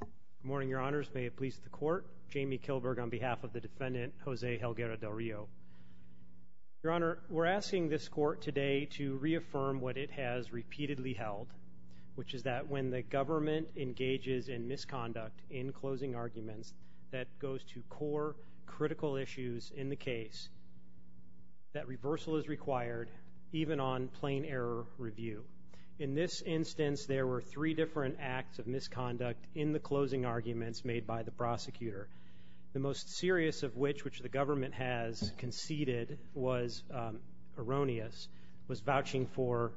Good morning, your honors. May it please the court. Jamie Kilberg on behalf of the defendant, Jose Helguera-Del Rio. Your honor, we're asking this court today to reaffirm what it has repeatedly held, which is that when the government engages in misconduct in closing arguments that goes to core, critical issues in the case, that reversal is required, even on plain error review. In this instance, there were three different acts of misconduct in the closing arguments made by the prosecutor. The most serious of which, which the government has conceded was erroneous, was vouching for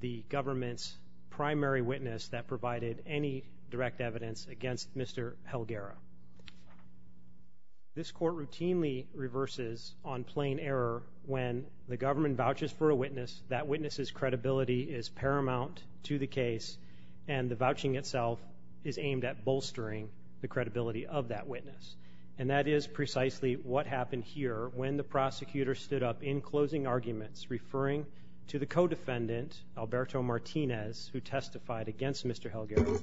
the government's primary witness that provided any direct evidence against Mr. Helguera. This court routinely reverses on plain error when the government vouches for a witness, that witness's credibility is paramount to the case, and the vouching itself is aimed at bolstering the credibility of that witness. And that is precisely what happened here when the prosecutor stood up in closing arguments referring to the co-defendant, Alberto Martinez, who testified against Mr. Helguera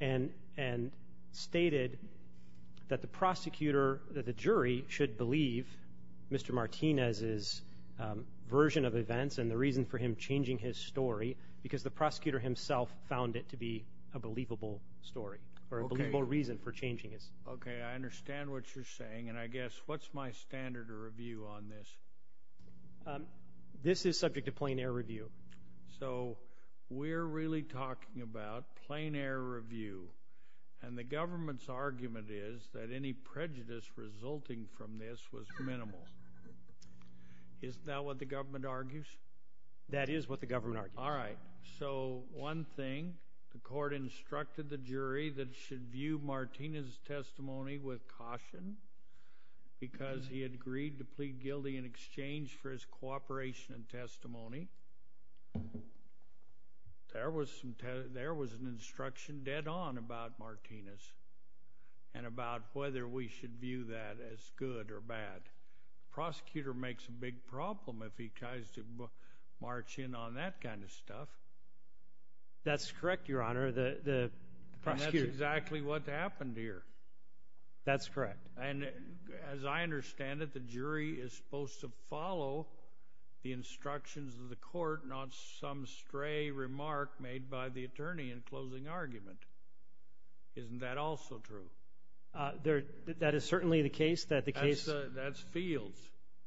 and stated that the jury should believe Mr. Martinez's version of events and the reason for him changing his story because the prosecutor himself found it to be a believable story or a believable reason for changing his. Okay, I understand what you're saying, and I guess what's my standard of review on this? This is subject to plain error review. So we're really talking about plain error review, and the government's argument is that any prejudice resulting from this was minimal. Isn't that what the government argues? That is what the government argues. All right, so one thing, the court instructed the jury that it should view Martinez's testimony with caution because he agreed to plead guilty in exchange for his cooperation and testimony. There was an instruction dead on about Martinez and about whether we should view that as good or bad. The prosecutor makes a big problem if he tries to march in on that kind of stuff. That's correct, Your Honor. And that's exactly what happened here. That's correct. And as I understand it, the jury is supposed to follow the instructions of the court, not some stray remark made by the attorney in closing argument. Isn't that also true? That is certainly the case. That's Fields.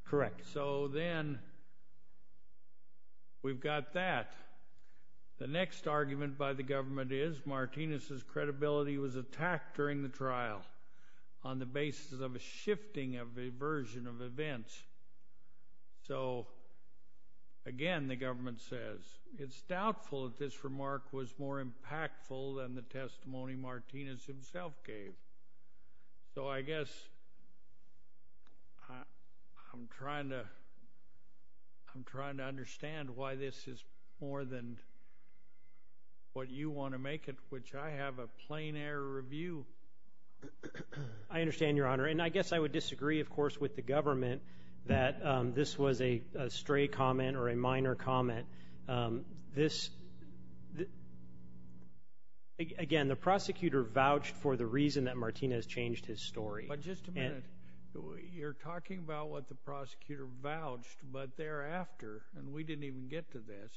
Correct. So then we've got that. The next argument by the government is that Martinez's credibility was attacked during the trial on the basis of a shifting of a version of events. So, again, the government says it's doubtful that this remark was more impactful than the testimony Martinez himself gave. So I guess I'm trying to understand why this is more than what you want to make it, which I have a plain error of view. I understand, Your Honor, and I guess I would disagree, of course, with the government that this was a stray comment or a minor comment. This, again, the prosecutor vouched for the reason that Martinez changed his story. But just a minute. You're talking about what the prosecutor vouched, but thereafter, and we didn't even get to this,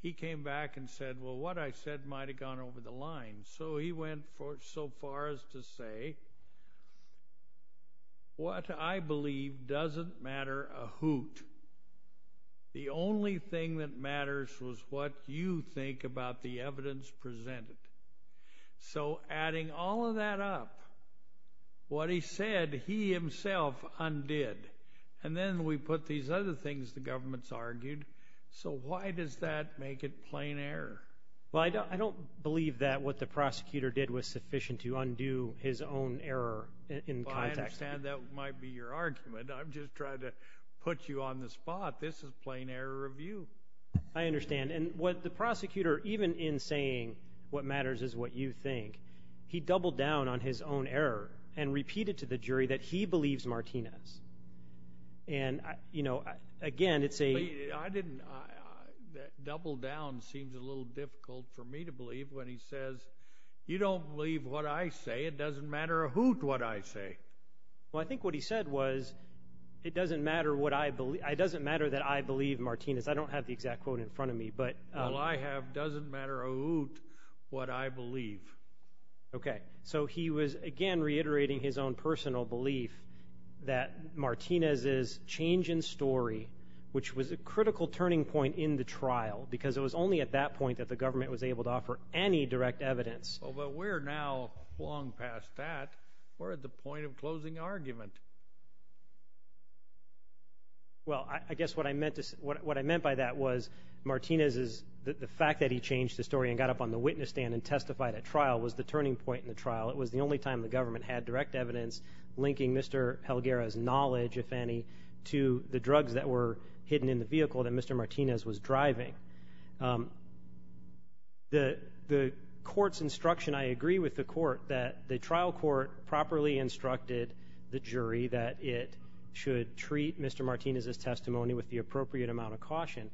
he came back and said, well, what I said might have gone over the line. So he went so far as to say, what I believe doesn't matter a hoot. The only thing that matters was what you think about the evidence presented. So adding all of that up, what he said he himself undid, and then we put these other things the government's argued. So why does that make it plain error? Well, I don't believe that what the prosecutor did was sufficient to undo his own error in context. Well, I understand that might be your argument. I'm just trying to put you on the spot. This is plain error of you. I understand. And what the prosecutor, even in saying what matters is what you think, he doubled down on his own error and repeated to the jury that he believes Martinez. And, you know, again, it's a – I didn't – double down seems a little difficult for me to believe when he says, you don't believe what I say. It doesn't matter a hoot what I say. Well, I think what he said was it doesn't matter what I – it doesn't matter that I believe Martinez. I don't have the exact quote in front of me. Well, I have doesn't matter a hoot what I believe. Okay. So he was, again, reiterating his own personal belief that Martinez's change in story, which was a critical turning point in the trial because it was only at that point that the government was able to offer any direct evidence. Well, but we're now long past that. We're at the point of closing argument. Well, I guess what I meant by that was Martinez's – the fact that he changed the story and got up on the witness stand and testified at trial was the turning point in the trial. It was the only time the government had direct evidence linking Mr. Helguera's knowledge, if any, to the drugs that were hidden in the vehicle that Mr. Martinez was driving. The court's instruction – I agree with the court that the trial court properly instructed the jury that it should treat Mr. Martinez's testimony with the appropriate amount of caution.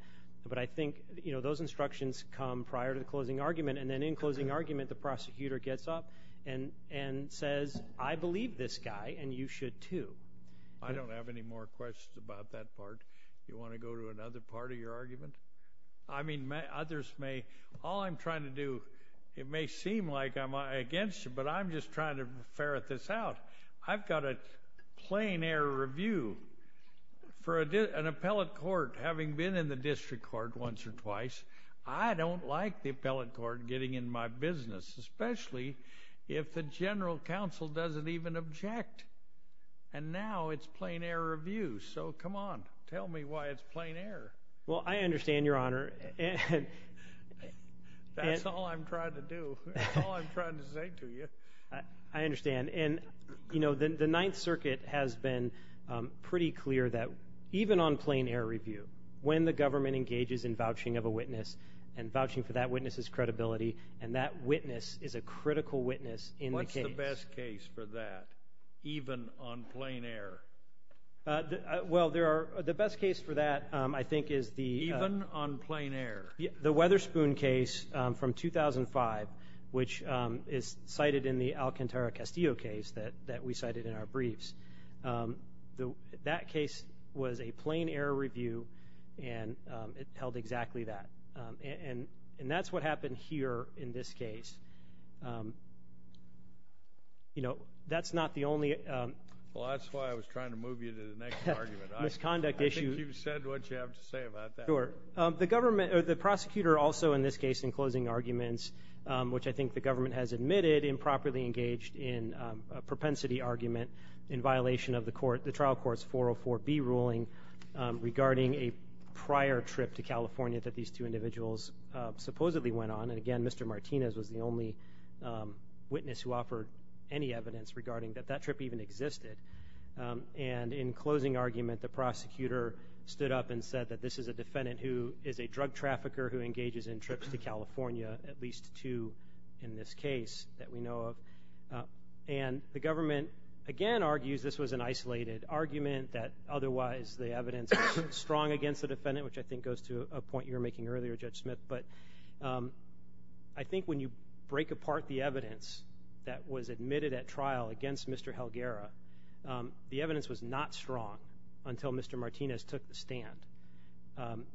But I think those instructions come prior to the closing argument, and then in closing argument the prosecutor gets up and says, I believe this guy and you should too. I don't have any more questions about that part. You want to go to another part of your argument? I mean, others may. All I'm trying to do – it may seem like I'm against you, but I'm just trying to ferret this out. I've got a plain error review. For an appellate court, having been in the district court once or twice, I don't like the appellate court getting in my business, especially if the general counsel doesn't even object. And now it's plain error review. So come on, tell me why it's plain error. Well, I understand, Your Honor. That's all I'm trying to do. That's all I'm trying to say to you. I understand. The Ninth Circuit has been pretty clear that even on plain error review, when the government engages in vouching of a witness and vouching for that witness's credibility, and that witness is a critical witness in the case. What's the best case for that, even on plain error? Well, the best case for that, I think, is the – Even on plain error? The Weatherspoon case from 2005, which is cited in the Alcantara-Castillo case that we cited in our briefs. That case was a plain error review, and it held exactly that. And that's what happened here in this case. You know, that's not the only misconduct issue. Well, that's why I was trying to move you to the next argument. I think you've said what you have to say about that. Sure. The prosecutor also, in this case, in closing arguments, which I think the government has admitted improperly engaged in a propensity argument in violation of the trial court's 404B ruling regarding a prior trip to California that these two individuals supposedly went on. And again, Mr. Martinez was the only witness who offered any evidence regarding that that trip even existed. And in closing argument, the prosecutor stood up and said that this is a defendant who is a drug trafficker who engages in trips to California, at least two in this case that we know of. And the government, again, argues this was an isolated argument, that otherwise the evidence was strong against the defendant, which I think goes to a point you were making earlier, Judge Smith. But I think when you break apart the evidence that was admitted at trial against Mr. Helguera, the evidence was not strong until Mr. Martinez took the stand.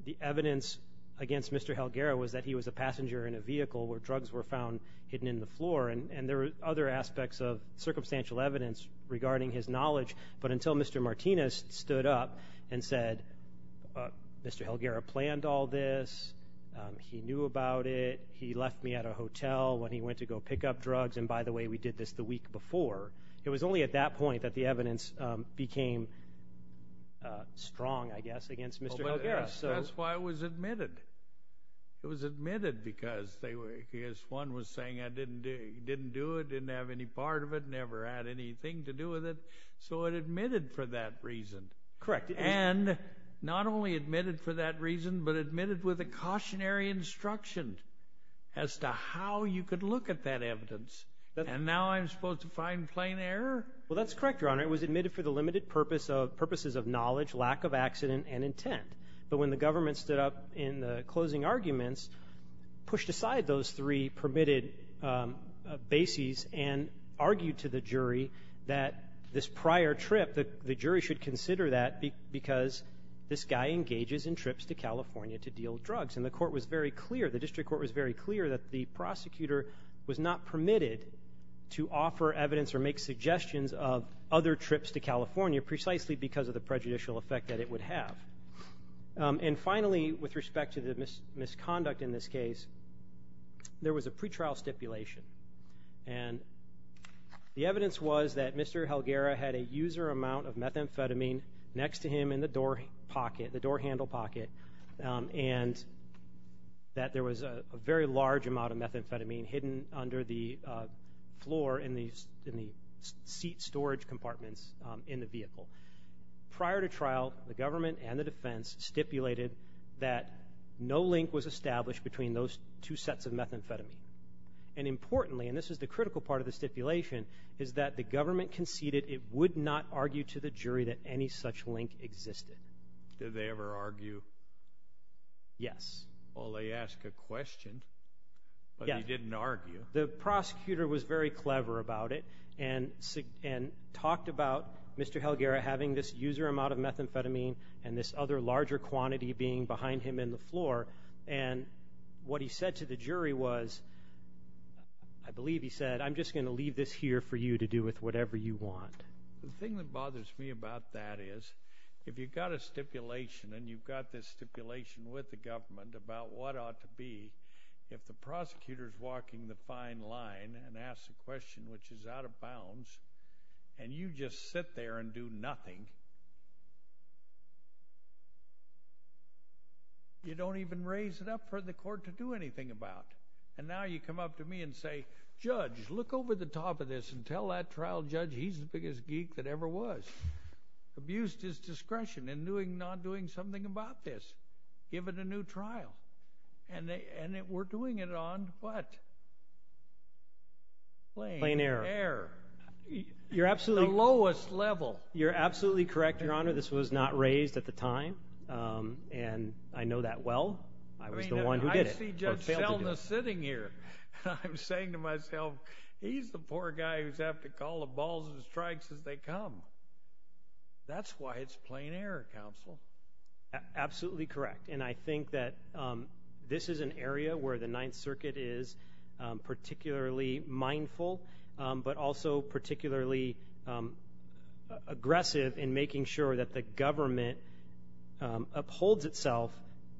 The evidence against Mr. Helguera was that he was a passenger in a vehicle where drugs were found hidden in the floor, and there were other aspects of circumstantial evidence regarding his knowledge. But until Mr. Martinez stood up and said, Mr. Helguera planned all this, he knew about it, he left me at a hotel when he went to go pick up drugs, and by the way, we did this the week before, it was only at that point that the evidence became strong, I guess, against Mr. Helguera. That's why it was admitted. It was admitted because one was saying I didn't do it, didn't have any part of it, never had anything to do with it, so it admitted for that reason. Correct. And not only admitted for that reason, but admitted with a cautionary instruction as to how you could look at that evidence, and now I'm supposed to find plain error? Well, that's correct, Your Honor. It was admitted for the limited purposes of knowledge, lack of accident, and intent. But when the government stood up in the closing arguments, pushed aside those three permitted bases and argued to the jury that this prior trip, the jury should consider that because this guy engages in trips to California to deal drugs. And the court was very clear, the district court was very clear, that the prosecutor was not permitted to offer evidence or make suggestions of other trips to California precisely because of the prejudicial effect that it would have. And finally, with respect to the misconduct in this case, there was a pretrial stipulation. And the evidence was that Mr. Helguera had a user amount of methamphetamine next to him in the door handle pocket, and that there was a very large amount of methamphetamine hidden under the floor in the seat storage compartments in the vehicle. Prior to trial, the government and the defense stipulated that no link was established between those two sets of methamphetamine. And importantly, and this is the critical part of the stipulation, is that the government conceded it would not argue to the jury that any such link existed. Did they ever argue? Yes. Well, they asked a question, but they didn't argue. The prosecutor was very clever about it and talked about Mr. Helguera having this user amount of methamphetamine and this other larger quantity being behind him in the floor. And what he said to the jury was, I believe he said, I'm just going to leave this here for you to do with whatever you want. The thing that bothers me about that is, if you've got a stipulation and you've got this stipulation with the government about what ought to be, if the prosecutor is walking the fine line and asks a question which is out of bounds and you just sit there and do nothing, you don't even raise it up for the court to do anything about. And now you come up to me and say, Judge, look over the top of this and tell that trial judge he's the biggest geek that ever was, abused his discretion in not doing something about this, give it a new trial. And we're doing it on what? Plain error. The lowest level. You're absolutely correct, Your Honor. This was not raised at the time, and I know that well. I was the one who did it. I see Judge Selna sitting here. I'm saying to myself, he's the poor guy who's going to have to call the balls and strikes as they come. That's why it's plain error, Counsel. Absolutely correct. And I think that this is an area where the Ninth Circuit is particularly mindful but also particularly aggressive in making sure that the government upholds itself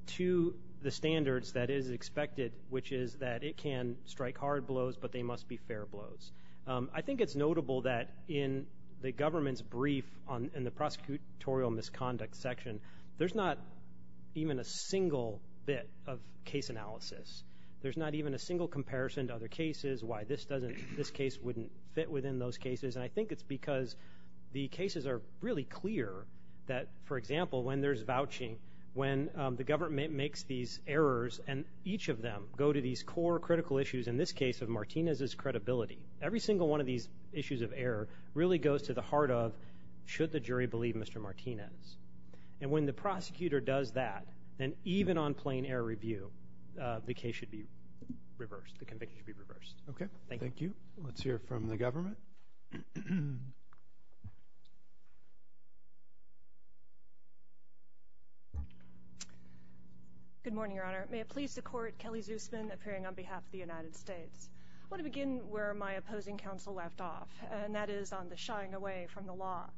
to the standards that is expected, which is that it can strike hard blows, but they must be fair blows. I think it's notable that in the government's brief in the prosecutorial misconduct section, there's not even a single bit of case analysis. There's not even a single comparison to other cases, why this case wouldn't fit within those cases, and I think it's because the cases are really clear that, for example, when there's vouching, when the government makes these errors and each of them go to these core critical issues, in this case of Martinez's credibility. Every single one of these issues of error really goes to the heart of, should the jury believe Mr. Martinez? And when the prosecutor does that, then even on plain error review, the case should be reversed. The conviction should be reversed. Okay. Thank you. Let's hear from the government. Good morning, Your Honor. May it please the Court, Kelly Zusman, appearing on behalf of the United States. I want to begin where my opposing counsel left off, and that is on the shying away from the law.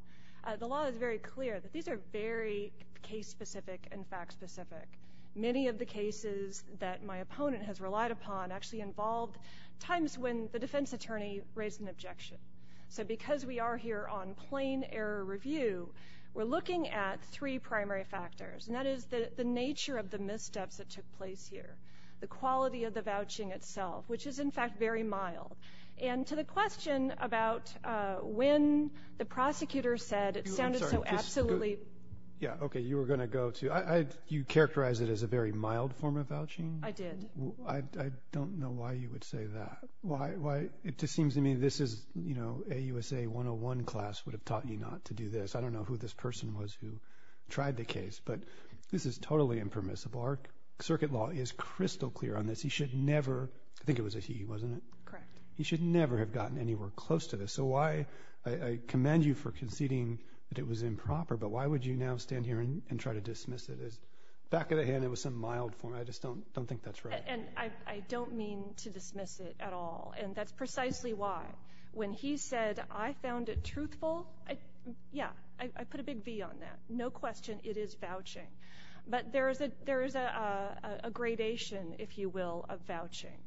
The law is very clear that these are very case-specific and fact-specific. Many of the cases that my opponent has relied upon actually involved times when the defense attorney raised an objection. So because we are here on plain error review, we're looking at three primary factors, and that is the nature of the missteps that took place here, the quality of the vouching itself, which is, in fact, very mild, and to the question about when the prosecutor said it sounded so absolutely. Yeah, okay. You were going to go to. You characterized it as a very mild form of vouching? I did. I don't know why you would say that. Why? It just seems to me this is, you know, a USA 101 class would have taught you not to do this. I don't know who this person was who tried the case, but this is totally impermissible. Our circuit law is crystal clear on this. He should never. I think it was a he, wasn't it? Correct. He should never have gotten anywhere close to this. So I commend you for conceding that it was improper, but why would you now stand here and try to dismiss it? Back of the hand, it was some mild form. I just don't think that's right. And I don't mean to dismiss it at all, and that's precisely why. When he said, I found it truthful, yeah, I put a big V on that. No question, it is vouching. But there is a gradation, if you will, of vouching.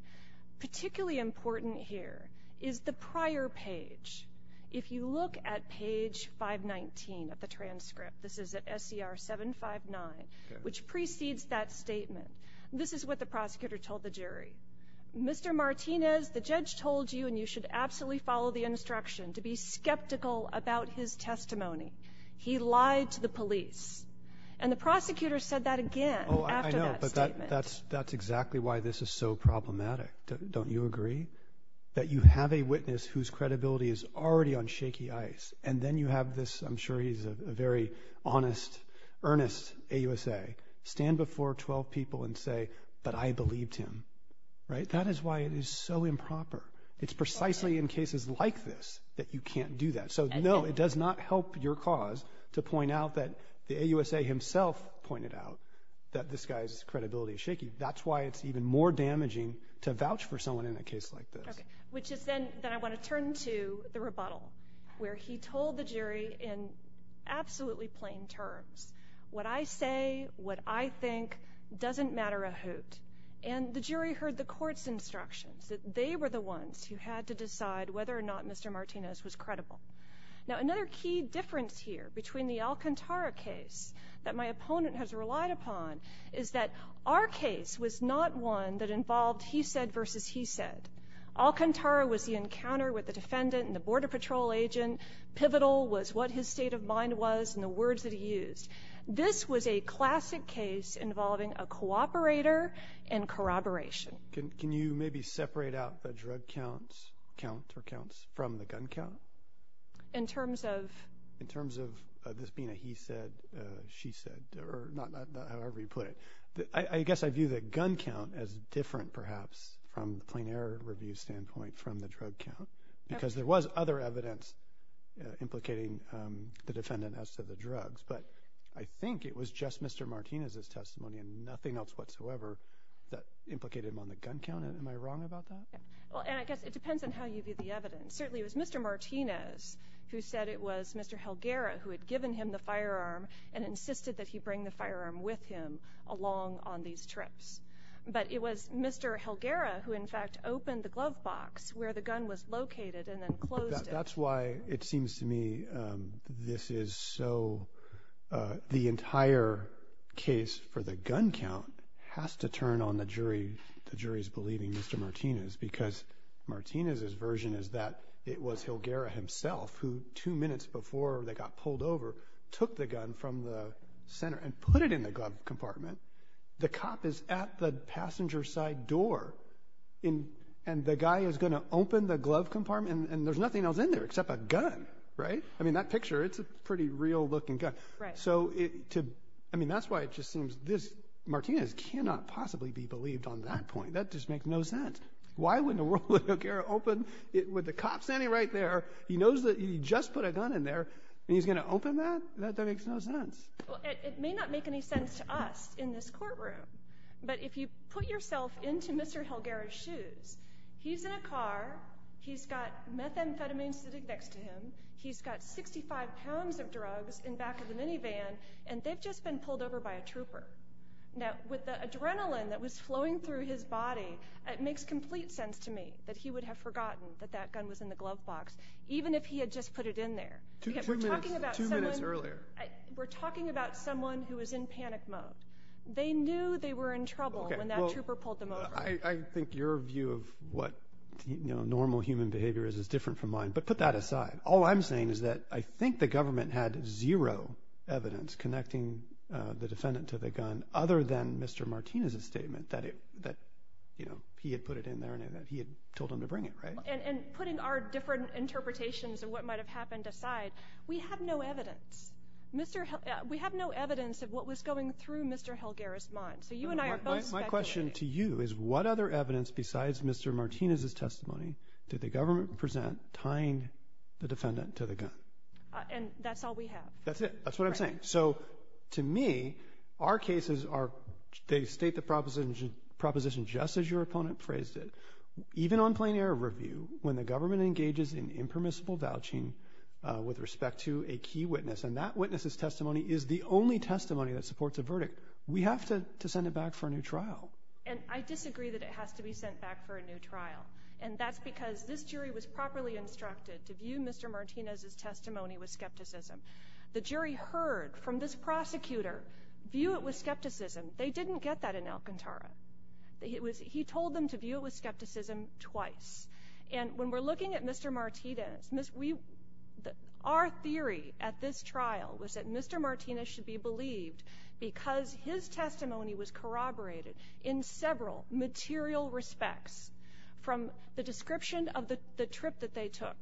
Particularly important here is the prior page. If you look at page 519 of the transcript, this is at SCR 759, which precedes that statement, this is what the prosecutor told the jury. Mr. Martinez, the judge told you, and you should absolutely follow the instruction, to be skeptical about his testimony. He lied to the police. And the prosecutor said that again after that statement. Oh, I know, but that's exactly why this is so problematic. Don't you agree? That you have a witness whose credibility is already on shaky ice, and then you have this, I'm sure he's a very honest, earnest AUSA, stand before 12 people and say, but I believed him. Right? That is why it is so improper. It's precisely in cases like this that you can't do that. So, no, it does not help your cause to point out that the AUSA himself pointed out that this guy's credibility is shaky. That's why it's even more damaging to vouch for someone in a case like this. Which is then I want to turn to the rebuttal, where he told the jury in absolutely plain terms, what I say, what I think, doesn't matter a hoot. And the jury heard the court's instructions, that they were the ones who had to decide whether or not Mr. Martinez was credible. Now, another key difference here between the Alcantara case that my opponent has relied upon is that our case was not one that involved he said versus he said. Alcantara was the encounter with the defendant and the border patrol agent. Pivotal was what his state of mind was and the words that he used. This was a classic case involving a cooperator and corroboration. Can you maybe separate out the drug count or counts from the gun count? In terms of? In terms of this being a he said, she said, or however you put it. I guess I view the gun count as different perhaps from the plain error review standpoint from the drug count. Because there was other evidence implicating the defendant as to the drugs. But I think it was just Mr. Martinez's testimony and nothing else whatsoever that implicated him on the gun count. Am I wrong about that? Well, and I guess it depends on how you view the evidence. Certainly it was Mr. Martinez who said it was Mr. Helguera who had given him the firearm and insisted that he bring the firearm with him along on these trips. But it was Mr. Helguera who in fact opened the glove box where the gun was located and then closed it. That's why it seems to me this is so. The entire case for the gun count has to turn on the jury. The jury is believing Mr. Martinez because Martinez's version is that it was Helguera himself who two minutes before they got pulled over took the gun from the center and put it in the glove compartment. The cop is at the passenger side door and the guy is going to open the glove compartment and there's nothing else in there except a gun. Right? I mean, that picture, it's a pretty real looking gun. So, I mean, that's why it just seems this. Martinez cannot possibly be believed on that point. That just makes no sense. Why wouldn't Helguera open with the cop standing right there? He knows that he just put a gun in there and he's going to open that? That makes no sense. It may not make any sense to us in this courtroom, but if you put yourself into Mr. Helguera's shoes, he's in a car, he's got methamphetamine sitting next to him, he's got 65 pounds of drugs in the back of the minivan, and they've just been pulled over by a trooper. Now, with the adrenaline that was flowing through his body, it makes complete sense to me that he would have forgotten that that gun was in the glove box even if he had just put it in there. Two minutes earlier. We're talking about someone who was in panic mode. They knew they were in trouble when that trooper pulled them over. I think your view of what normal human behavior is is different from mine, but put that aside. All I'm saying is that I think the government had zero evidence connecting the defendant to the gun other than Mr. Martinez's statement that he had put it in there and he had told him to bring it, right? And putting our different interpretations of what might have happened aside, we have no evidence. We have no evidence of what was going through Mr. Helguera's mind. So you and I are both speculating. My question to you is what other evidence besides Mr. Martinez's testimony did the government present tying the defendant to the gun? And that's all we have. That's it. That's what I'm saying. So to me, our cases are they state the proposition just as your opponent phrased it. Even on plain-air review, when the government engages in impermissible vouching with respect to a key witness and that witness's testimony is the only testimony that supports a verdict, we have to send it back for a new trial. And I disagree that it has to be sent back for a new trial. And that's because this jury was properly instructed to view Mr. Martinez's testimony with skepticism. The jury heard from this prosecutor view it with skepticism. They didn't get that in Alcantara. He told them to view it with skepticism twice. And when we're looking at Mr. Martinez, our theory at this trial was that Mr. Martinez should be believed because his testimony was corroborated in several material respects from the description of the trip that they took,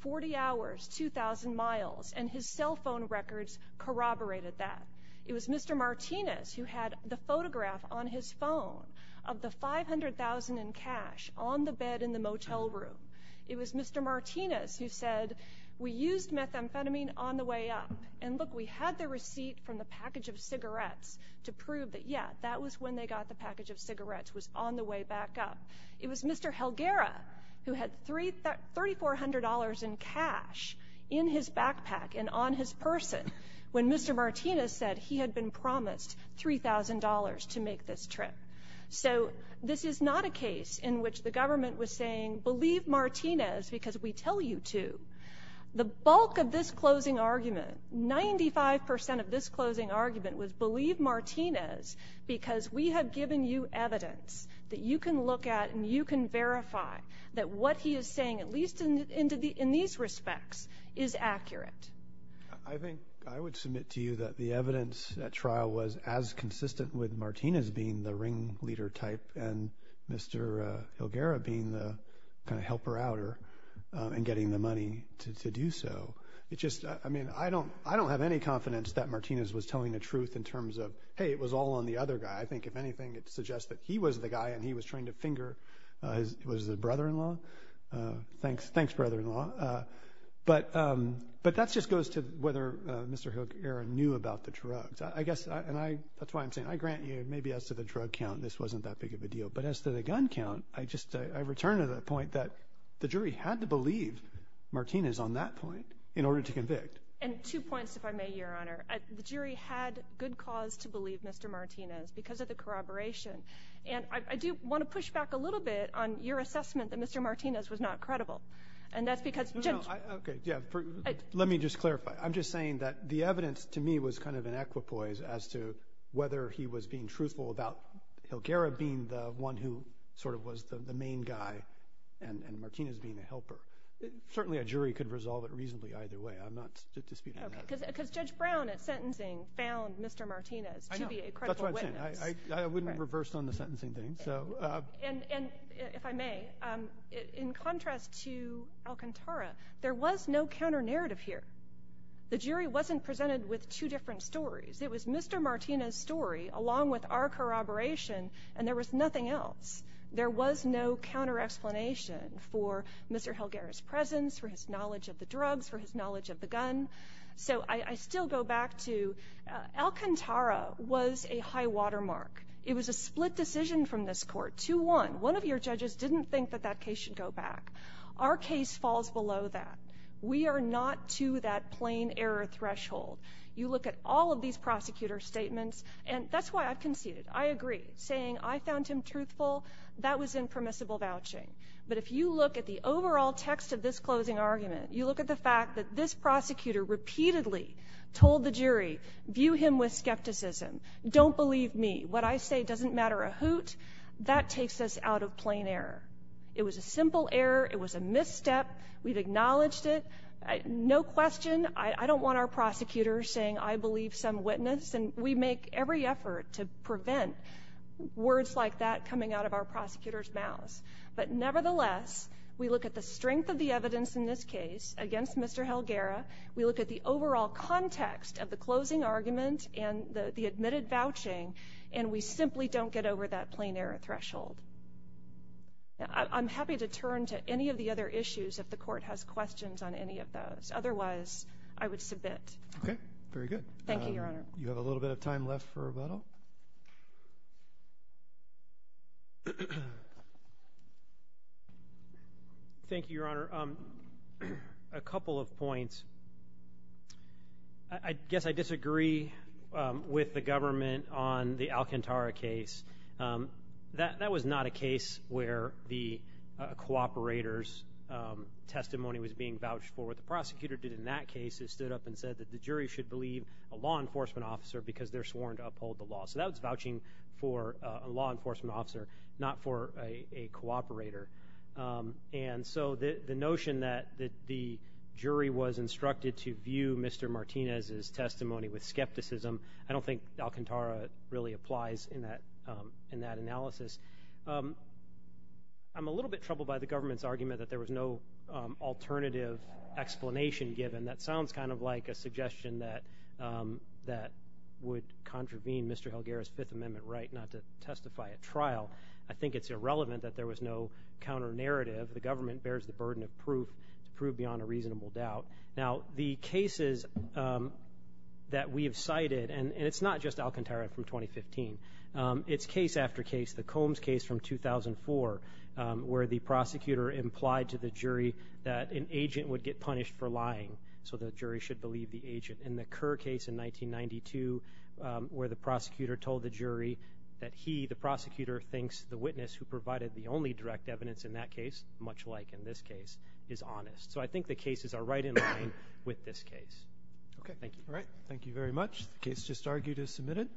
40 hours, 2,000 miles, and his cell phone records corroborated that. It was Mr. Martinez who had the photograph on his phone of the $500,000 in cash on the bed in the motel room. It was Mr. Martinez who said, we used methamphetamine on the way up. And, look, we had the receipt from the package of cigarettes to prove that, yeah, that was when they got the package of cigarettes, was on the way back up. It was Mr. Helguera who had $3,400 in cash in his backpack and on his person when Mr. Martinez said he had been promised $3,000 to make this trip. So this is not a case in which the government was saying, believe Martinez because we tell you to. The bulk of this closing argument, 95% of this closing argument, was believe Martinez because we have given you evidence that you can look at and you can verify that what he is saying, at least in these respects, is accurate. I think I would submit to you that the evidence at trial was as consistent with Martinez being the ringleader type and Mr. Helguera being the kind of helper outer and getting the money to do so. I mean, I don't have any confidence that Martinez was telling the truth in terms of, hey, it was all on the other guy. I think, if anything, it suggests that he was the guy and he was trying to finger his brother-in-law. Thanks, brother-in-law. But that just goes to whether Mr. Helguera knew about the drugs. And that's why I'm saying I grant you, maybe as to the drug count, this wasn't that big of a deal. But as to the gun count, I return to the point that the jury had to believe Martinez on that point in order to convict. And two points, if I may, Your Honor. The jury had good cause to believe Mr. Martinez because of the corroboration. And I do want to push back a little bit on your assessment that Mr. Martinez was not credible. And that's because – No, no. Okay, yeah. Let me just clarify. I'm just saying that the evidence, to me, was kind of an equipoise as to whether he was being truthful about Helguera being the one who sort of was the main guy and Martinez being a helper. Certainly a jury could resolve it reasonably either way. I'm not disputing that. Okay. Because Judge Brown, at sentencing, found Mr. Martinez to be a credible witness. I know. It depends on the sentencing thing. And if I may, in contrast to Alcantara, there was no counter-narrative here. The jury wasn't presented with two different stories. It was Mr. Martinez's story along with our corroboration, and there was nothing else. There was no counter-explanation for Mr. Helguera's presence, for his knowledge of the drugs, for his knowledge of the gun. So I still go back to Alcantara was a high-water mark. It was a split decision from this court, 2-1. One of your judges didn't think that that case should go back. Our case falls below that. We are not to that plain error threshold. You look at all of these prosecutor statements, and that's why I conceded. I agree. Saying I found him truthful, that was impermissible vouching. But if you look at the overall text of this closing argument, you look at the fact that this prosecutor repeatedly told the jury, View him with skepticism. Don't believe me. What I say doesn't matter a hoot. That takes us out of plain error. It was a simple error. It was a misstep. We've acknowledged it. No question. I don't want our prosecutors saying, I believe some witness. And we make every effort to prevent words like that coming out of our prosecutors' mouths. But nevertheless, we look at the strength of the evidence in this case against Mr. Helguera. We look at the overall context of the closing argument and the admitted vouching, and we simply don't get over that plain error threshold. I'm happy to turn to any of the other issues if the court has questions on any of those. Otherwise, I would submit. Okay. Very good. Thank you, Your Honor. You have a little bit of time left for rebuttal. Thank you, Your Honor. A couple of points. I guess I disagree with the government on the Alcantara case. That was not a case where the cooperator's testimony was being vouched for. What the prosecutor did in that case is stood up and said that the jury should believe a law enforcement officer because they're sworn to uphold the law. So that was vouching for a law enforcement officer, not for a cooperator. And so the notion that the jury was instructed to view Mr. Martinez's testimony with skepticism, I don't think Alcantara really applies in that analysis. I'm a little bit troubled by the government's argument that there was no alternative explanation given. That sounds kind of like a suggestion that would contravene Mr. Helguera's Fifth Amendment right not to testify at trial. I think it's irrelevant that there was no counter-narrative. The government bears the burden of proof beyond a reasonable doubt. Now, the cases that we have cited, and it's not just Alcantara from 2015. It's case after case. The Combs case from 2004 where the prosecutor implied to the jury that an agent would get punished for lying, so the jury should believe the agent. And the Kerr case in 1992 where the prosecutor told the jury that he, the prosecutor, thinks the witness who provided the only direct evidence in that case, much like in this case, is honest. So I think the cases are right in line with this case. Thank you. All right. Thank you very much. The case just argued is submitted.